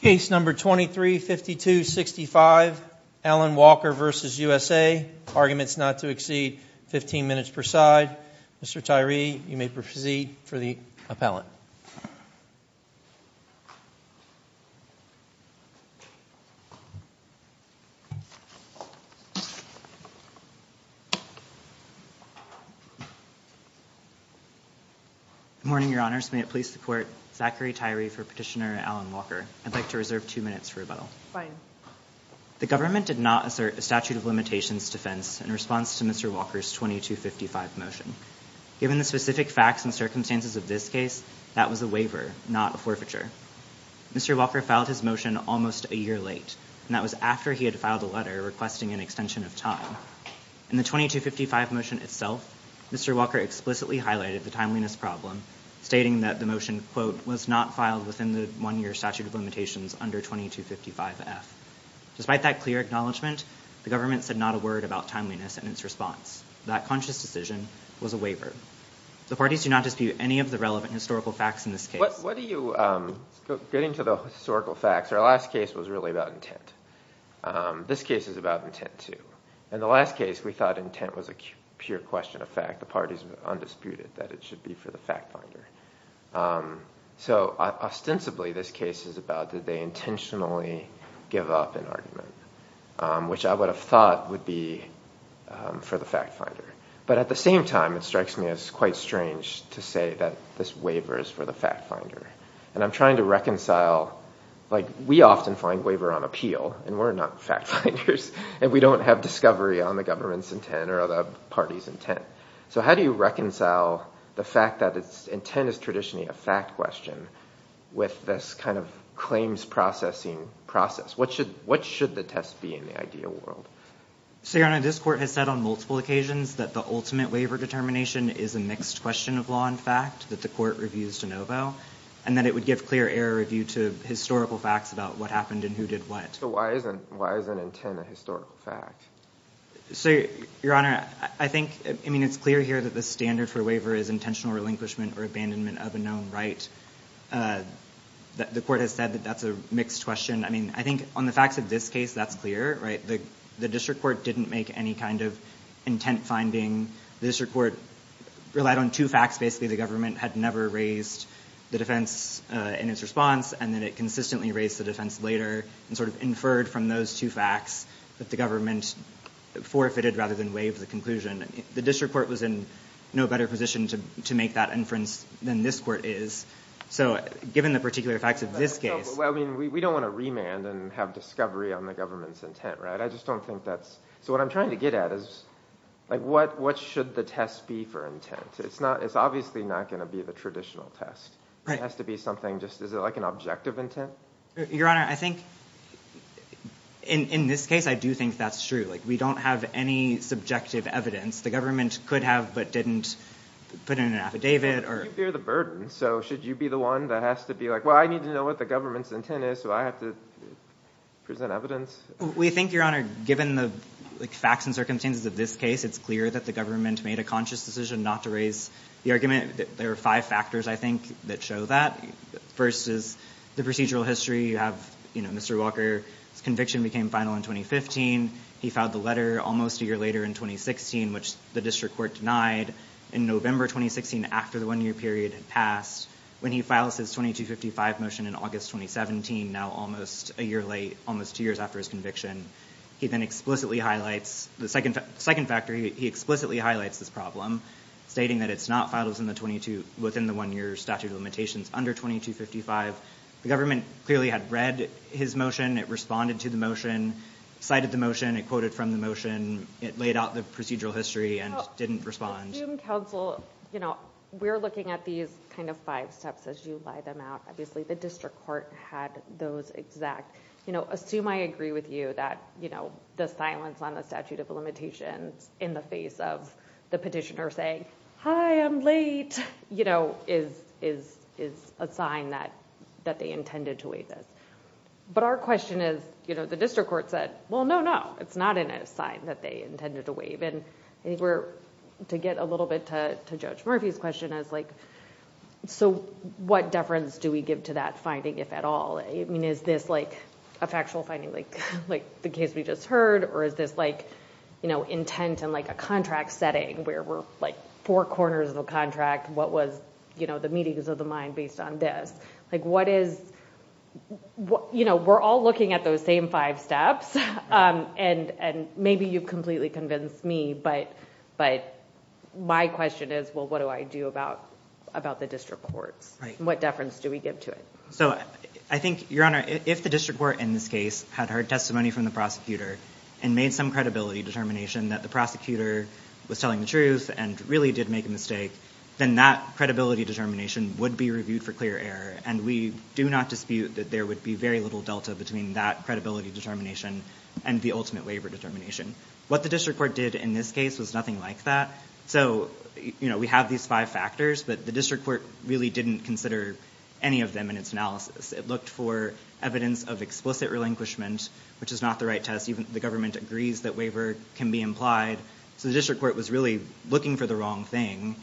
case number 2352 65 Alan Walker versus USA arguments not to exceed 15 minutes per side mr. Tyree you may proceed for the appellant morning your honors may it please the court Zachary Tyree for petitioner Alan Walker I'd like to reserve two minutes for rebuttal the government did not assert a statute of limitations defense in response to mr. Walker's 2255 motion given the specific facts and circumstances of this case that was a waiver not a forfeiture mr. Walker filed his motion almost a year late and that was after he had filed a letter requesting an extension of time and the 2255 motion itself mr. Walker explicitly highlighted the timeliness problem stating that the motion quote was not filed within the one-year statute of limitations under 2255 F despite that clear acknowledgement the government said not a word about timeliness and its response that conscious decision was a waiver the parties do not dispute any of the relevant historical facts in this case what do you getting to the historical facts our last case was really about intent this case is about intent to and the last case we thought intent was a pure question of fact the parties undisputed that it should be for the fact finder so ostensibly this case is about did they intentionally give up an argument which I would have thought would be for the fact finder but at the same time it strikes me as quite strange to say that this waiver is for the fact finder and I'm trying to reconcile like we often find waiver on appeal and we're not fact finders and we don't have discovery on the government's intent or parties intent so how do you reconcile the fact that its intent is traditionally a fact question with this kind of claims processing process what should what should the test be in the ideal world so your honor this court has said on multiple occasions that the ultimate waiver determination is a mixed question of law in fact that the court reviews de novo and then it would give clear error review to historical facts about what happened and who did what so why I think I mean it's clear here that the standard for waiver is intentional relinquishment or abandonment of a known right that the court has said that that's a mixed question I mean I think on the facts of this case that's clear right the the district court didn't make any kind of intent finding the district court relied on two facts basically the government had never raised the defense in its response and then it consistently raised the defense later and sort of inferred from those two facts that the government forfeited rather than waive the conclusion the district court was in no better position to make that inference than this court is so given the particular facts of this case I mean we don't want to remand and have discovery on the government's intent right I just don't think that's so what I'm trying to get at is like what what should the test be for intent it's not it's obviously not going to be the traditional test right has to be something just is it like an objective intent your honor I think in in this case I do think that's true like we don't have any subjective evidence the government could have but didn't put in an affidavit or fear the burden so should you be the one that has to be like well I need to know what the government's intent is so I have to present evidence we think your honor given the facts and circumstances of this case it's clear that the government made a conscious decision not to raise the argument there are five factors I think that show that first is the procedural history you have you know mr. Walker conviction became final in 2015 he filed the letter almost a year later in 2016 which the district court denied in November 2016 after the one-year period had passed when he files his 2255 motion in August 2017 now almost a year late almost two years after his conviction he then explicitly highlights the second second factor he explicitly highlights this problem stating that it's not files in the 22 within the one year statute of limitations under 2255 the government clearly had read his motion it responded to the motion cited the motion it quoted from the motion it laid out the procedural history and didn't respond you know we're looking at these kind of five steps as you lie them out obviously the district court had those exact you know assume I agree with you that you know the silence on the statute of limitations in the face of the petitioner saying hi I'm late you know is is is a sign that that they intended to wait this but our question is you know the district court said well no no it's not in a sign that they intended to waive and I think we're to get a little bit to judge Murphy's question is like so what deference do we give to that finding if at all I mean is this like a factual finding like like the case we just heard or is this like you know intent and like a contract setting where we're like four corners of a contract what was you know the meetings of the mind based on this like what is what you know we're all looking at those same five steps and and maybe you've completely convinced me but but my question is well what do I do about about the district courts what deference do we give to it so I think your honor if the district were in this case had heard testimony from the prosecutor and made some credibility determination that the prosecutor was telling the truth and really did make a mistake then that credibility determination would be reviewed for clear error and we do not dispute that there would be very little Delta between that credibility determination and the ultimate waiver determination what the district court did in this case was nothing like that so you know we have these five factors but the district court really didn't consider any of them in its analysis it looked for evidence of explicit relinquishment which is not the right test even the government agrees that can be implied so the district court was really looking for the wrong thing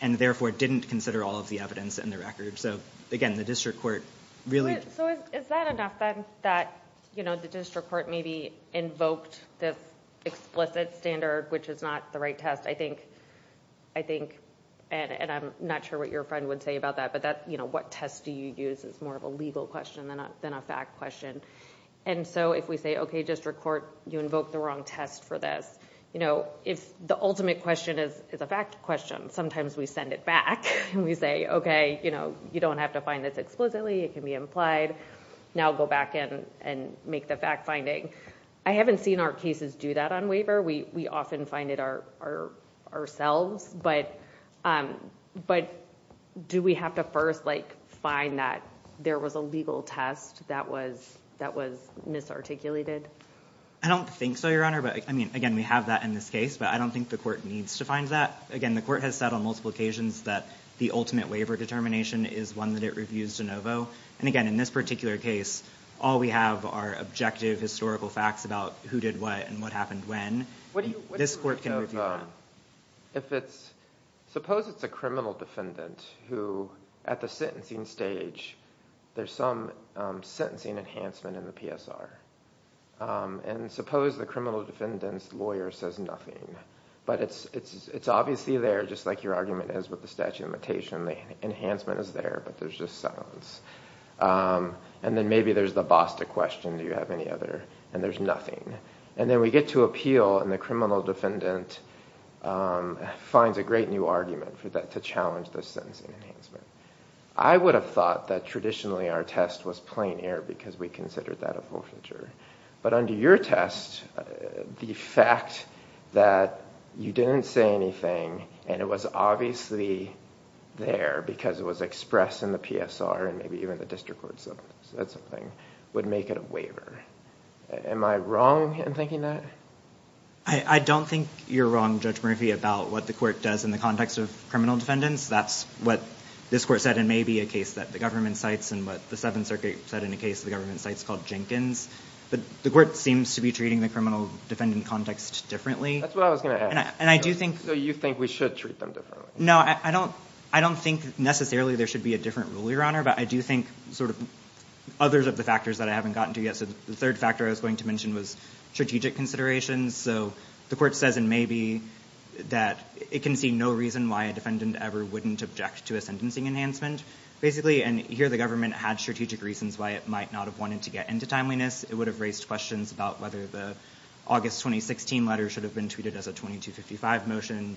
and therefore didn't consider all of the evidence in the record so again the district court really that you know the district court maybe invoked this explicit standard which is not the right test I think I think and I'm not sure what your friend would say about that but that you know what test do you use it's more of a legal question than a than a fact question and so if we say okay district court you invoke the wrong test for this you know if the ultimate question is is a fact question sometimes we send it back and we say okay you know you don't have to find this explicitly it can be implied now go back in and make the fact-finding I haven't seen our cases do that on waiver we we often find it our ourselves but but do we have to first like find that there was a legal test that was that was misarticulated I don't think so your honor but I mean again we have that in this case but I don't think the court needs to find that again the court has said on multiple occasions that the ultimate waiver determination is one that it reviews de novo and again in this particular case all we have are objective historical facts about who did what and what happened when this court can review if it's suppose it's a defendant who at the sentencing stage there's some sentencing enhancement in the PSR and suppose the criminal defendants lawyer says nothing but it's it's it's obviously there just like your argument is with the statute of imitation the enhancement is there but there's just silence and then maybe there's the BOSTA question do you have any other and there's nothing and then we get to appeal and the criminal defendant finds a great new argument for to challenge the sentencing enhancement I would have thought that traditionally our test was plain air because we considered that a forfeiture but under your test the fact that you didn't say anything and it was obviously there because it was expressed in the PSR and maybe even the district court said something would make it a waiver am I wrong in thinking that I don't think you're wrong judge Murphy about what the court does in the context of criminal defendants that's what this court said and maybe a case that the government sites and what the Seventh Circuit said in a case the government sites called Jenkins but the court seems to be treating the criminal defendant context differently and I do think so you think we should treat them differently no I don't I don't think necessarily there should be a different rule your honor but I do think sort of others of the factors that I haven't gotten to yet so the third factor I was going to mention was strategic considerations so the court says and maybe that it can see no reason why a defendant ever wouldn't object to a sentencing enhancement basically and here the government had strategic reasons why it might not have wanted to get into timeliness it would have raised questions about whether the August 2016 letter should have been tweeted as a 2255 motion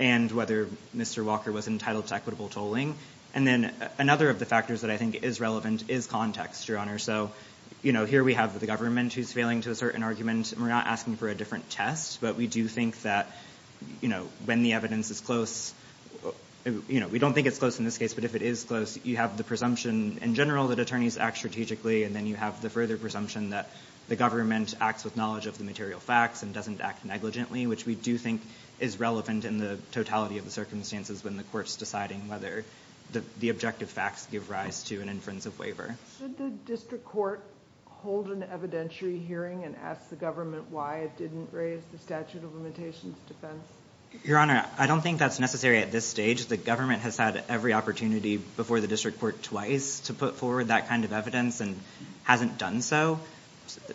and whether mr. Walker was entitled to equitable tolling and then another of the factors that I think is relevant is context your honor so you know here we have the government who's failing to assert an argument we're not asking for a different test but we do think that you know when the evidence is close you know we don't think it's close in this case but if it is close you have the presumption in general that attorneys act strategically and then you have the further presumption that the government acts with knowledge of the material facts and doesn't act negligently which we do think is relevant in the totality of the circumstances when the courts deciding whether the objective facts give rise to an inference of waiver court hold an evidentiary hearing and ask the government why it didn't raise the statute of limitations defense your honor I don't think that's necessary at this stage the government has had every opportunity before the district court twice to put forward that kind of evidence and hasn't done so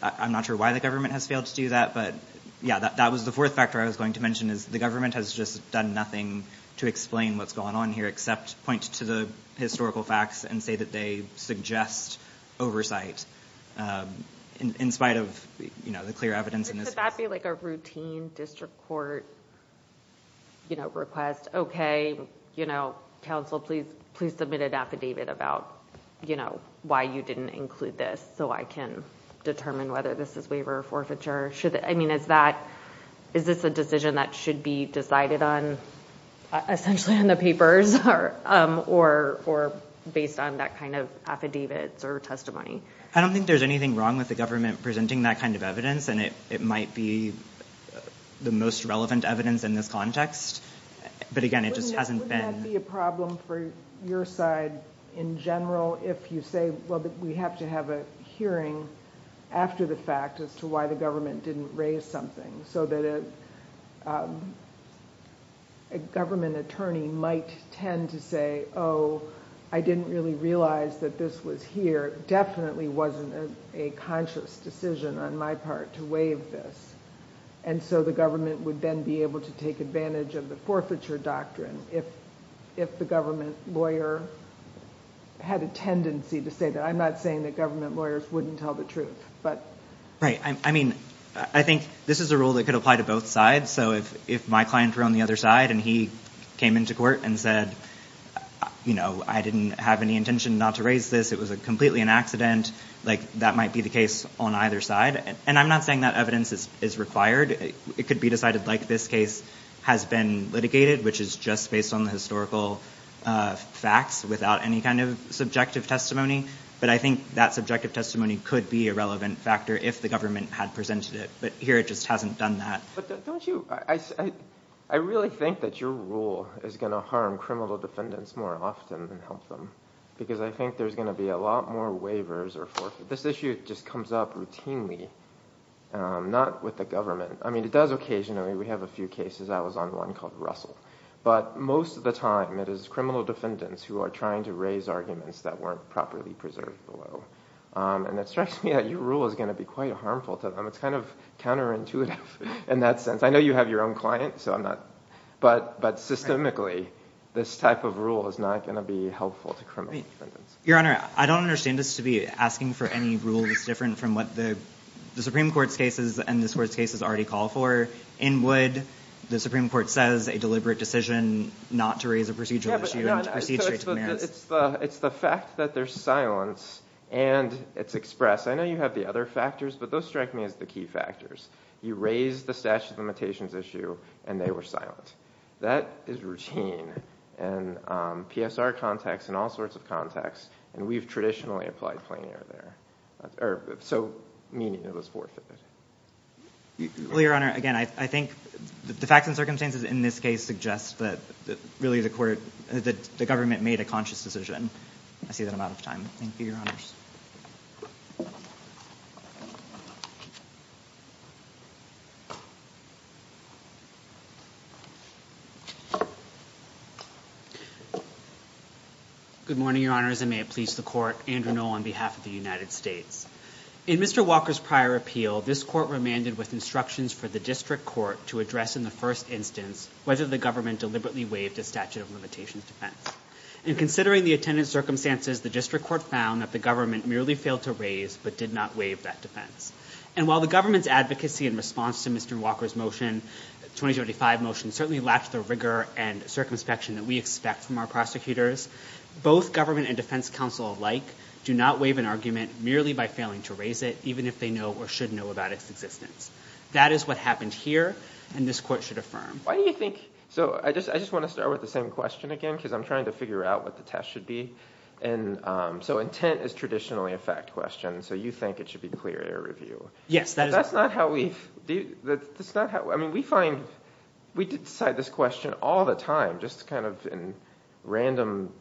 I'm not sure why the government has failed to do that but yeah that was the fourth factor I was going to mention is the government has just done nothing to explain what's going on here except point to the historical facts and say that they suggest oversight in spite of you know the clear evidence in this I feel like a routine district court you know request okay you know counsel please please submit an affidavit about you know why you didn't include this so I can determine whether this is waiver or forfeiture should I mean is that is this a decision that should be decided on essentially on the papers or or based on that kind of affidavits or testimony I don't think there's anything wrong with the government presenting that kind of evidence and it it might be the most relevant evidence in this context but again it just hasn't been a problem for your side in general if you say well but we have to have a hearing after the fact as to why the government didn't raise something so that a government attorney might tend to say oh I didn't really realize that this was here definitely wasn't a conscious decision on my part to waive this and so the government would then be able to take advantage of the forfeiture doctrine if if the government lawyer had a tendency to say that I'm not saying that government lawyers wouldn't tell the truth but right I mean I think this is a rule that could apply to both sides so if if my client were on the other side and he came into court and said you know I didn't have any intention not to raise this it was a completely an accident like that might be the case on either side and I'm not saying that evidence is is required it could be decided like this case has been litigated which is just based on the historical facts without any kind of subjective testimony but I think that subjective testimony could be a relevant factor if the government had presented it but here it just hasn't done that I really think that your rule is gonna harm criminal defendants more often than help them because I think there's gonna be a lot more waivers or for this issue just comes up routinely not with the government I mean it does occasionally we have a few cases I was on one called Russell but most of the time it is criminal defendants who are trying to raise arguments that weren't properly preserved below and it strikes me that your rule is going to be quite harmful to them it's kind of counterintuitive in that sense I know you have your own client so I'm not but but systemically this type of rule is not going to be helpful to criminal defendants. Your honor I don't understand this to be asking for any rule that's different from what the the Supreme Court's cases and this court's cases already call for in would the Supreme Court says a deliberate decision not to raise a procedural issue. It's the fact that there's silence and it's expressed I know you have the other factors but those strike me as the key factors you raise the statute of limitations issue and they were silent that is routine and PSR context and all sorts of context and we've traditionally applied plenary there so meaning it was forfeited. Your honor again I think the facts and circumstances in this case suggests that really the court that the made a conscious decision. I see that I'm out of time. Thank you, your honors. Good morning, your honors and may it please the court. Andrew Noll on behalf of the United States. In Mr. Walker's prior appeal this court remanded with instructions for the district court to address in the first instance whether the government deliberately waived a statute of limitations defense and considering the attendance circumstances the district court found that the government merely failed to raise but did not waive that defense and while the government's advocacy in response to Mr. Walker's motion 2035 motion certainly lacked the rigor and circumspection that we expect from our prosecutors both government and defense counsel alike do not waive an argument merely by failing to raise it even if they know or should know about its existence. That is what happened here and this court should affirm. Why do you think so I just I just want to start with the same question again because I'm trying to figure out what the test should be and so intent is traditionally a fact question so you think it should be clear error review. Yes. That's not how we do that's not how I mean we find we decide this question all the time just kind of in random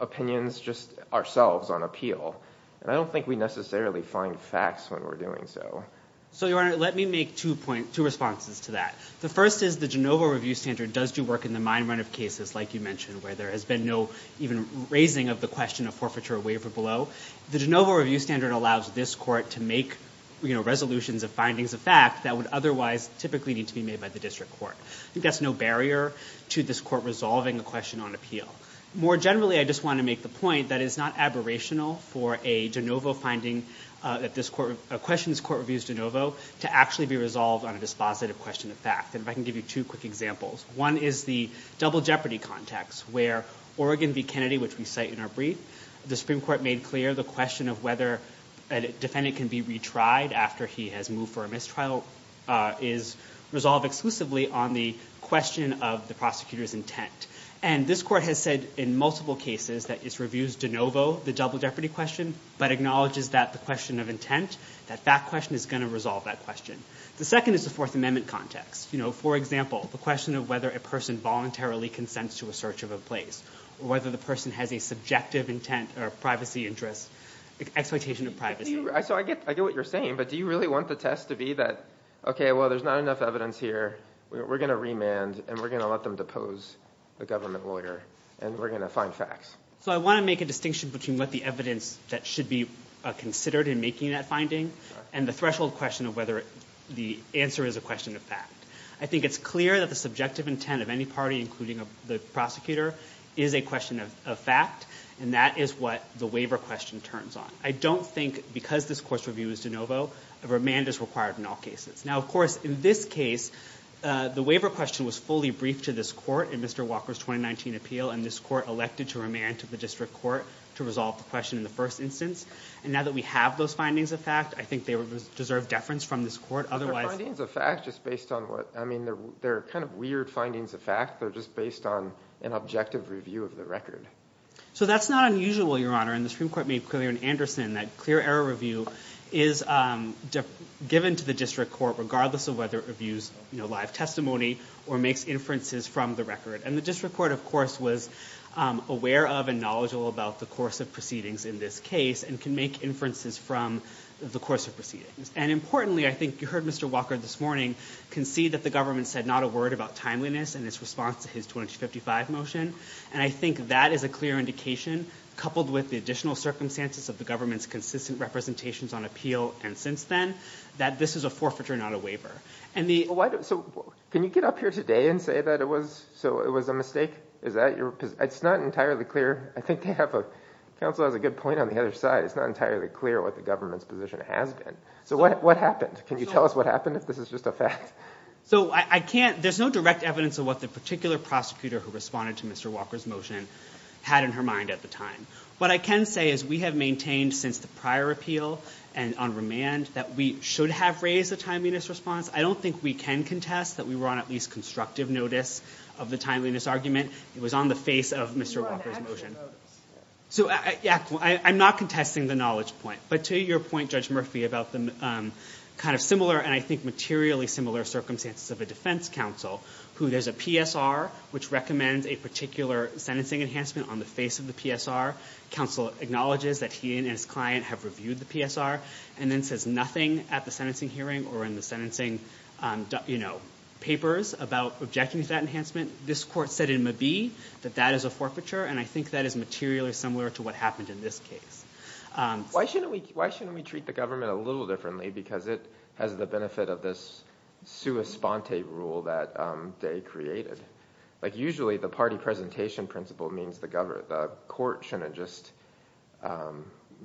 opinions just ourselves on appeal and I don't think we necessarily find facts when we're doing so. So your honor let me make two points two responses to that the first is the Jenova review standard does do work in the mind run of cases like you mentioned where there has been no even raising of the question of forfeiture waiver below. The Jenova review standard allows this court to make you know resolutions of findings of fact that would otherwise typically need to be made by the district court. I think that's no barrier to this court resolving a question on appeal. More generally I just want to make the point that is not aberrational for a Jenova finding that this court a question this court reviews Jenova to actually be resolved on a dispositive question of fact and if I can give you two quick examples. One is the double jeopardy context where Oregon v. Kennedy which we cite in our brief the Supreme Court made clear the question of whether a defendant can be retried after he has moved for a mistrial is resolved exclusively on the question of the prosecutor's intent and this court has said in multiple cases that it's reviews Jenova the double jeopardy question but acknowledges that the question of intent that fact question is going to resolve that question. The second is the Fourth Amendment context you know for example the question of whether a person voluntarily consents to a search of a place or whether the person has a subjective intent or privacy interest expectation of privacy. So I get what you're saying but do you really want the test to be that okay well there's not enough evidence here we're gonna remand and we're gonna let them depose the government lawyer and we're gonna find facts. So I want to make a distinction between what the evidence that should be considered in making that finding and the threshold question of whether the answer is a question of fact. I think it's clear that the subjective intent of any party including the prosecutor is a question of fact and that is what the waiver question turns on. I don't think because this course review is Jenova a remand is required in all cases. Now of course in this case the waiver question was fully briefed to this court in Mr. Walker's 2019 appeal and this court elected to remand to the district court to resolve the question in the first instance and now that we have those findings of fact I think they would deserve deference from this court otherwise. But they're findings of fact just based on what I mean they're kind of weird findings of fact they're just based on an objective review of the record. So that's not unusual your honor and the Supreme Court made clear in Anderson that clear error review is given to the district court regardless of whether it reviews you know live testimony or makes inferences from the record and the district court of course was aware of and knowledgeable about the course of proceedings in this case and can make inferences from the course of proceedings and importantly I think you heard Mr. Walker this morning concede that the government said not a word about timeliness and its response to his 2055 motion and I think that is a clear indication coupled with the additional circumstances of the government's consistent representations on appeal and since then that this is a forfeiture not a waiver and the why so can you get up here today and say that it was so it was a mistake is that your it's not entirely clear I think they have a counsel has a good point on the other side it's not entirely clear what the government's position has been so what happened can you tell us what happened if this is just a fact so I can't there's no direct evidence of what the particular prosecutor who responded to mr. Walker's motion had in her mind at the time what I can say is we have maintained since the prior appeal and on remand that we should have raised the timeliness response I don't think we can contest that we were on at least constructive notice of the timeliness argument it was on the face of mr. Walker's motion so yeah I'm not contesting the knowledge point but to your point judge Murphy about them kind of similar and I think materially similar circumstances of a defense counsel who there's a PSR which recommends a particular sentencing enhancement on the face of the PSR counsel acknowledges that he and his client have reviewed the PSR and then says nothing at the sentencing hearing or in the sentencing you know papers about objecting to that enhancement this court said it may be that that is a forfeiture and I think that is materially similar to what happened in this case why shouldn't we why shouldn't we treat the government a little differently because it has the benefit of this sua sponte rule that they created like usually the party presentation principle means the court shouldn't just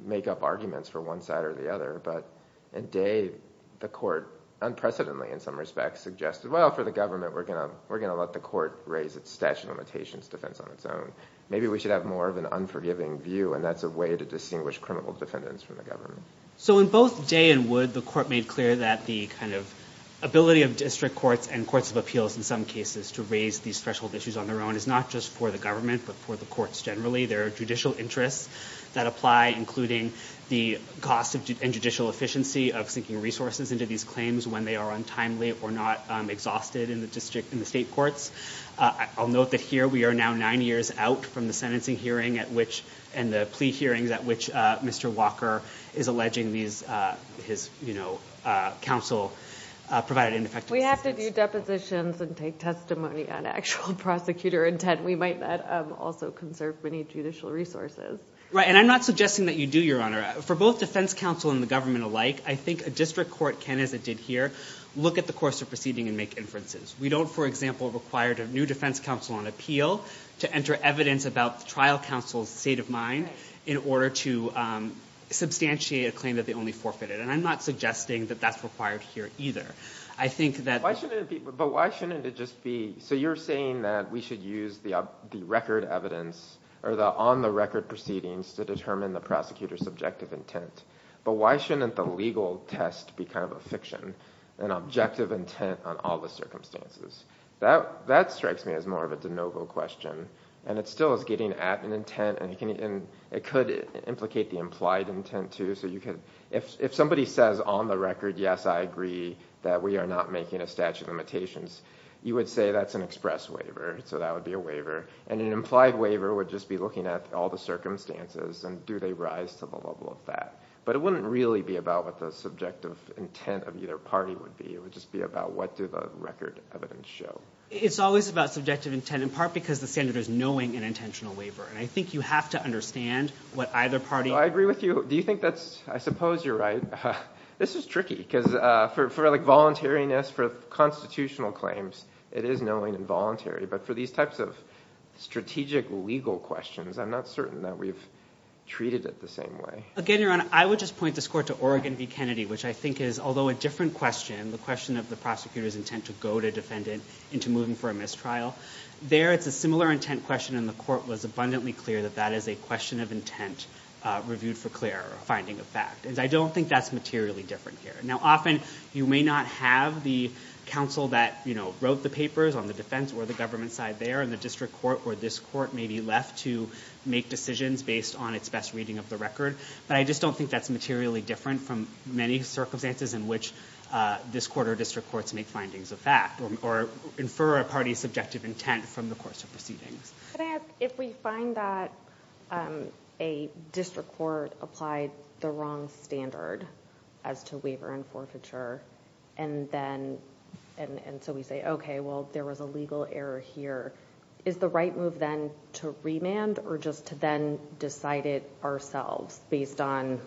make up arguments for one side or the other but in day the court unprecedentedly in some respects suggested well for the government we're gonna we're gonna let the court raise its statute of limitations defense on its own maybe we should have more of an unforgiving view and that's a way to distinguish criminal defendants from the government so in both day and would the court made clear that the kind of ability of district courts and courts of appeals in some cases to raise these threshold issues on their own is not just for the government but for the courts generally their judicial interests that apply including the cost of judicial efficiency of seeking resources into these claims when they are untimely or not exhausted in the district in the state courts I'll note that here we are now nine years out from the sentencing hearing at which and the plea hearings at which mr. Walker is alleging these his you know counsel provided in effect we have to do also conserved many judicial resources right and I'm not suggesting that you do your honor for both defense counsel and the government alike I think a district court can as it did here look at the course of proceeding and make inferences we don't for example required a new defense counsel on appeal to enter evidence about the trial counsel's state of mind in order to substantiate a claim that they only forfeited and I'm not suggesting that that's required here either I think that why shouldn't it just be so you're saying that we should use the record evidence or the on-the-record proceedings to determine the prosecutor's objective intent but why shouldn't the legal test be kind of a fiction an objective intent on all the circumstances that that strikes me as more of a de novo question and it still is getting at an intent and you can it could implicate the implied intent to so you can if somebody says on the record yes I agree that we are not making a statute of limitations you would say that's an express waiver so that would be a waiver and an implied waiver would just be looking at all the circumstances and do they rise to the level of that but it wouldn't really be about what the subjective intent of either party would be it would just be about what do the record evidence show it's always about subjective intent in part because the senator is knowing an intentional waiver and I think you have to understand what either party I agree with you do you think that's I suppose you're right this is tricky because for like voluntariness for constitutional claims it is knowing and voluntary but for these types of strategic legal questions I'm not certain that we've treated it the same way again your honor I would just point this court to Oregon v. Kennedy which I think is although a different question the question of the prosecutor's intent to go to defendant into moving for a mistrial there it's a similar intent question and the court was abundantly clear that that is a question of intent reviewed for clear finding of fact and I don't think that's different here now often you may not have the counsel that you know wrote the papers on the defense or the government side there and the district court or this court may be left to make decisions based on its best reading of the record but I just don't think that's materially different from many circumstances in which this quarter district courts make findings of fact or infer a party's subjective intent from the course of proceedings if we find that a district court applied the wrong standard as to waiver and forfeiture and then and so we say okay well there was a legal error here is the right move then to remand or just to then decide it ourselves based on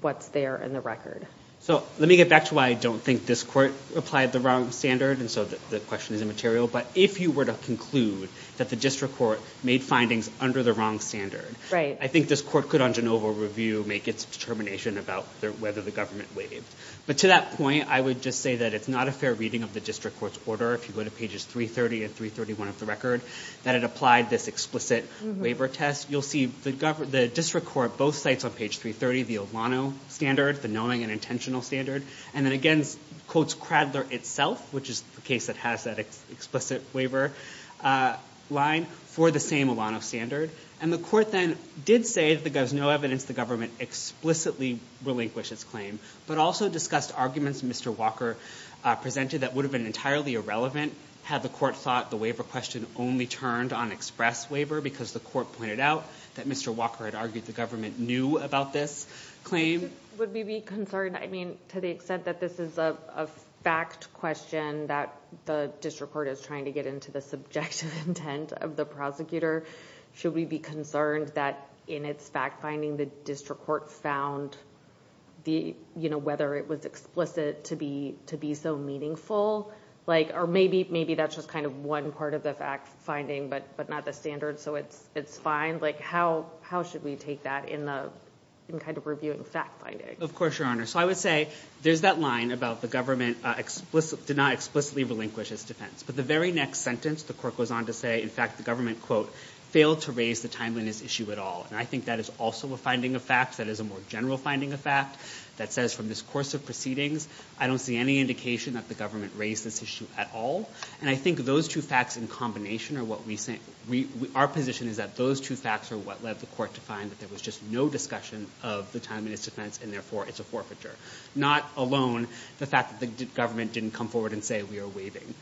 what's there in the record so let me get back to why I don't think this court applied the wrong standard and so that the question is immaterial but if you were to conclude that the district court made findings under the wrong standard right I think this court could on review make its determination about whether the government waived but to that point I would just say that it's not a fair reading of the district court's order if you go to pages 330 and 331 of the record that it applied this explicit waiver test you'll see the district court both sites on page 330 the Olano standard the knowing and intentional standard and then again quotes Cradler itself which is the case that has that explicit waiver line for the same Olano standard and the court then did say that there was no evidence the government explicitly relinquish its claim but also discussed arguments mr. Walker presented that would have been entirely irrelevant had the court thought the waiver question only turned on express waiver because the court pointed out that mr. Walker had argued the government knew about this claim would we be concerned I mean to the extent that this is a fact question that the district court is trying to get into the subjective intent of the prosecutor should we be concerned that in its fact-finding the district court found the you know whether it was explicit to be to be so meaningful like or maybe maybe that's just kind of one part of the fact-finding but but not the standard so it's it's fine like how how should we take that in the kind of reviewing fact-finding of course your honor so I would say there's that line about the government explicit did not explicitly relinquish its defense but the very next sentence the court goes on to say in fact the government quote failed to raise the timeliness issue at all and I think that is also a finding of facts that is a more general finding a fact that says from this course of proceedings I don't see any indication that the government raised this issue at all and I think those two facts in combination or what we say we our position is that those two facts are what led the court to find that there was just no discussion of the time in its defense and therefore it's a forfeiture not alone the fact that the government didn't come forward and say we are waiving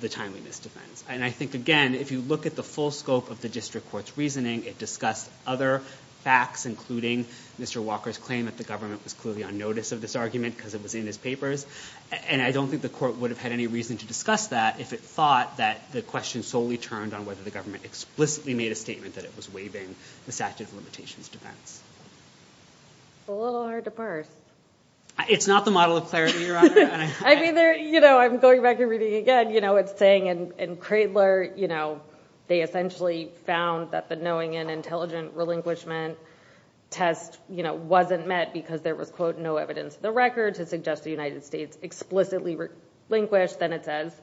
the timeliness defense and I think again if you look at the full scope of the district courts reasoning it discussed other facts including mr. Walker's claim that the government was clearly on notice of this argument because it was in his papers and I don't think the court would have had any reason to discuss that if it thought that the question solely turned on whether the government explicitly made a statement that it was waiving the statute of limitations defense a little hard to parse it's not the model of clarity I mean there you know I'm going back and reading again you know it's saying and Cradler you know they essentially found that the knowing and intelligent relinquishment test you know wasn't met because there was quote no evidence the record to suggest the United States explicitly relinquished then it says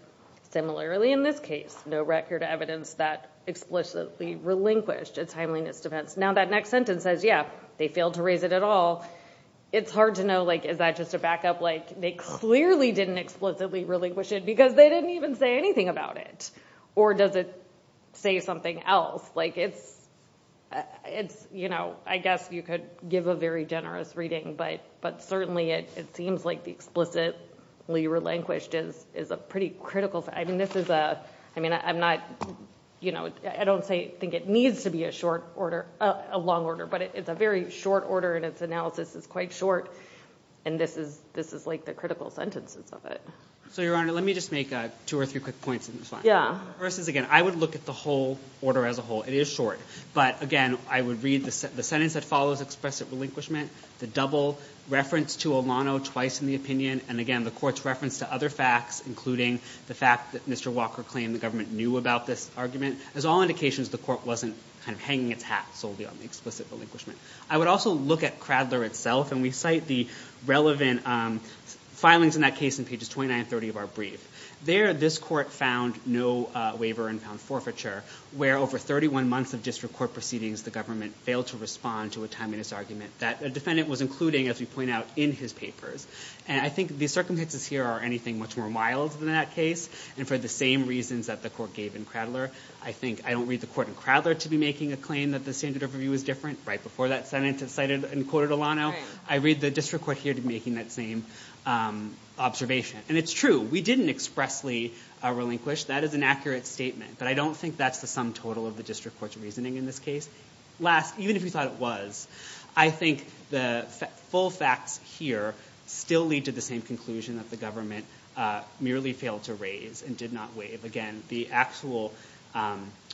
similarly in this case no record evidence that explicitly relinquished its timeliness defense now that next sentence says yeah they failed to raise it at all it's hard to know like is that just a backup like they clearly didn't explicitly relinquish it because they didn't even say anything about it or does it say something else like it's it's you know I guess you could give a very generous reading but but certainly it seems like the explicitly relinquished is is a pretty critical I mean this is a I mean I'm not you know I don't say think it needs to be a short order a long order but it's a very short order and its analysis is quite short and this is this is like the critical sentences of it so your honor let me just make a two or three quick points yeah versus again I would look at the whole order as a whole it is short but again I would read the sentence that follows expressive relinquishment the double reference to Olano twice in the opinion and again the courts reference to other facts including the fact that mr. Walker claimed the government knew about this argument as all indications the court wasn't kind of hanging its hat solely on the explicit relinquishment I would also look at Cradler itself and we cite the relevant filings in that case in pages 2930 of our brief there this court found no waiver and found forfeiture where over 31 months of district court proceedings the government failed to respond to a timeliness argument that a defendant was including as we point out in his papers and I think these circumstances here are anything much more wild than that case and for the same reasons that the court gave in Cradler I think I don't read the court in Cradler to be making a claim that the standard of review is different right before that Senate decided and quoted Olano I read the district court here to making that same observation and it's true we didn't expressly relinquish that is an accurate statement but I don't think that's the sum total of the district court's reasoning in this case last even if you thought it was I think the full facts here still lead to the same conclusion that the government merely failed to raise and did not wave again the actual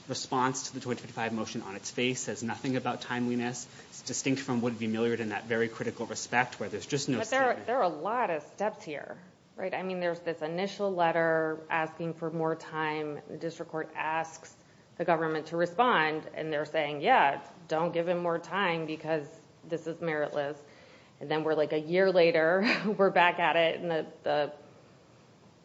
response to the 25 motion on its face says nothing about timeliness distinct from would be milliard in that very critical respect where there's just no there are a lot of steps here right I mean there's this initial letter asking for more time the district court asks the government to respond and they're saying yeah don't give him more time because this is meritless and then we're like a year later we're back at it and the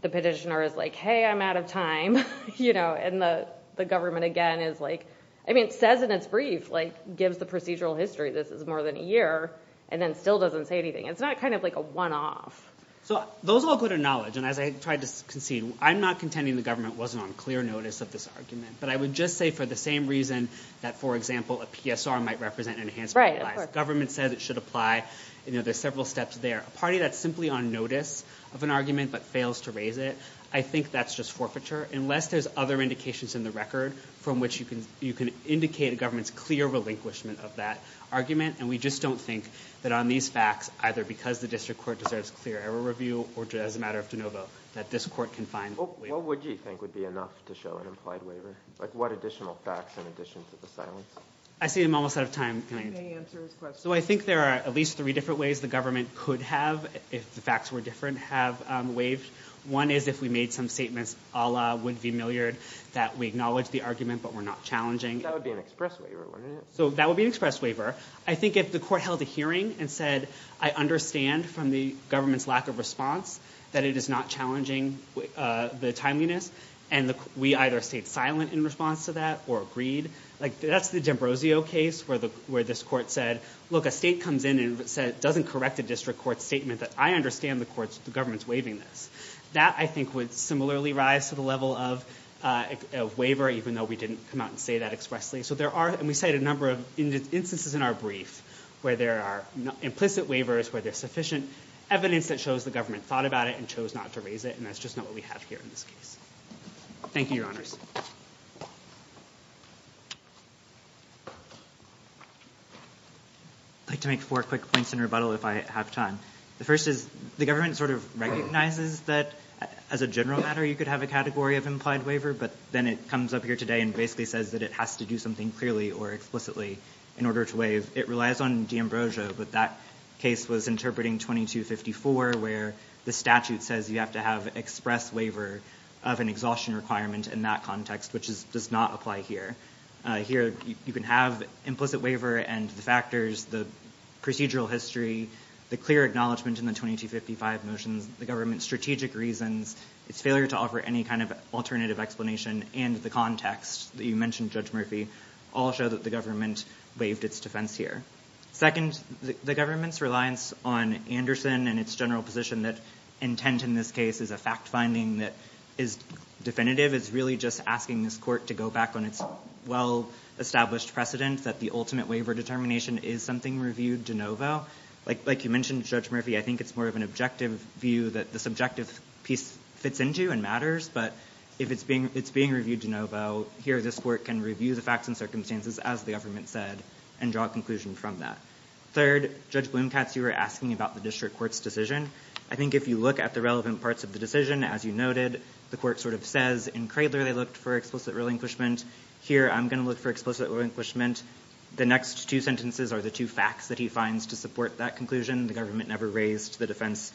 the petitioner is like hey I'm out of time you know and the the government again is like I mean it says in its brief like gives the procedural history this is more than a year and then still doesn't say anything it's not kind of like a one-off so those all go to knowledge and as I tried to concede I'm not contending the government wasn't on clear notice of this argument but I would just say for the same reason that for example a PSR might represent an enhanced right government says it should apply you know there's several steps there a party that's simply on notice of an argument but fails to raise it I think that's just forfeiture unless there's other indications in the record from which you can you can indicate a government's clear relinquishment of that argument and we just don't think that on these facts either because the district court deserves clear error review or just as a matter of de novo that this court can find what would you think would be enough to show an implied waiver like what additional facts in addition to the silence I see him almost out of time so I think there are at least three different ways the government could have if the facts were different have waived one is if we made some statements Allah would be milliard that we acknowledge the argument but we're not challenging so that would be an express waiver I think if the court held a hearing and said I understand from the government's lack of response that it is not challenging the timeliness and the we either stayed silent in response to that or agreed like that's the D'Ambrosio case where the where this court said look a state comes in and said doesn't correct a district court statement that I understand the courts the government's waiving this that I think would similarly rise to the level of waiver even though we didn't come out and say that expressly so there are and we said a number of instances in our brief where there are implicit waivers where there's sufficient evidence that shows the government thought about it and chose not to raise it and that's just not what we have here in this case thank you your honors like to make four quick points in rebuttal if I have time the first is the government sort of recognizes that as a general matter you could have a category of implied waiver but then it comes up here today and basically says that it has to do something clearly or explicitly in order to waive it relies on D'Ambrosio but that case was interpreting 2254 where the statute says you have to have express waiver of an exhaustion requirement in that context which is does not apply here here you can have implicit waiver and the factors the procedural history the clear acknowledgement in the 2255 motions the government's strategic reasons its failure to offer any kind of alternative explanation and the context that you mentioned judge Murphy all show that the government waived its defense here second the government's reliance on Anderson and its general position that intent in this case is a fact-finding that is definitive it's really just asking this court to go back on its well-established precedent that the ultimate waiver determination is something reviewed de novo like like you judge Murphy I think it's more of an objective view that the subjective piece fits into and matters but if it's being it's being reviewed de novo here this court can review the facts and circumstances as the government said and draw a conclusion from that third judge Bloom Katz you were asking about the district courts decision I think if you look at the relevant parts of the decision as you noted the court sort of says in Cradler they looked for explicit relinquishment here I'm gonna look for explicit relinquishment the next two sentences are the two facts that he finds to support that conclusion the government never raised the defense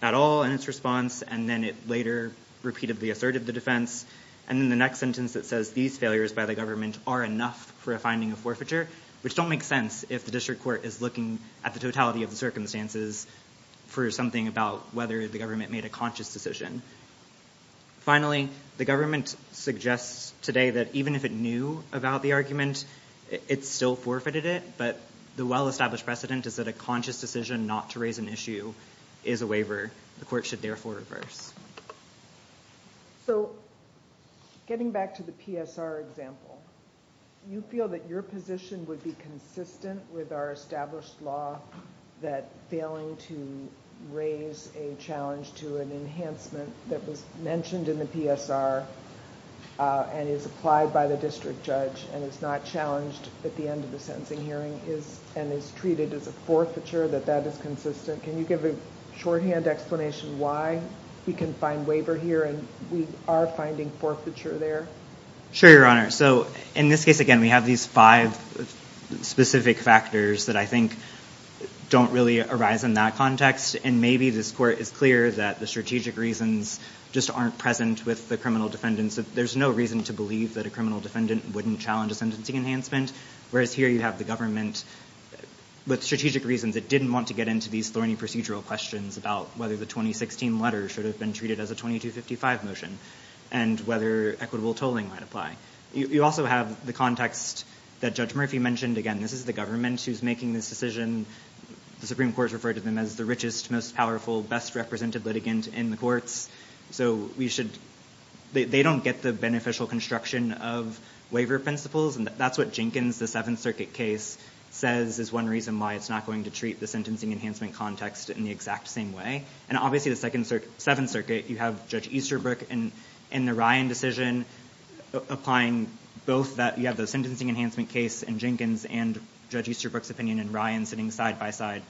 at all in its response and then it later repeatedly asserted the defense and in the next sentence that says these failures by the government are enough for a finding of forfeiture which don't make sense if the district court is looking at the totality of the circumstances for something about whether the government made a conscious decision finally the government suggests today that even if it knew about the argument it's still forfeited it but the well-established precedent is that a decision not to raise an issue is a waiver the court should therefore reverse so getting back to the PSR example you feel that your position would be consistent with our established law that failing to raise a challenge to an enhancement that was mentioned in the PSR and is applied by the district judge and it's not challenged at the end of the sentencing hearing is and is treated as a forfeiture that that is consistent can you give a shorthand explanation why we can find waiver here and we are finding forfeiture there sure your honor so in this case again we have these five specific factors that I think don't really arise in that context and maybe this court is clear that the strategic reasons just aren't present with the criminal defendants that there's no reason to believe that a criminal defendant wouldn't challenge a enhancement whereas here you have the government with strategic reasons it didn't want to get into these thorny procedural questions about whether the 2016 letter should have been treated as a 2255 motion and whether equitable tolling might apply you also have the context that judge Murphy mentioned again this is the government who's making this decision the Supreme Court referred to them as the richest most powerful best represented litigant in the courts so we should they don't get the beneficial construction of waiver principles and that's what Jenkins the Seventh Circuit case says is one reason why it's not going to treat the sentencing enhancement context in the exact same way and obviously the second circuit Seventh Circuit you have judge Easterbrook and in the Ryan decision applying both that you have those sentencing enhancement case and Jenkins and judge Easterbrook's opinion and Ryan sitting side-by-side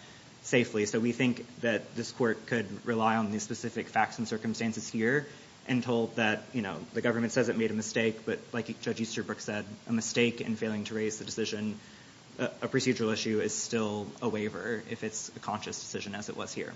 safely so we think that this court could rely on these specific facts and circumstances here and told that you know the government says it made a mistake but like you judge Easterbrook said a mistake in failing to raise the decision a procedural issue is still a waiver if it's a conscious decision as it was here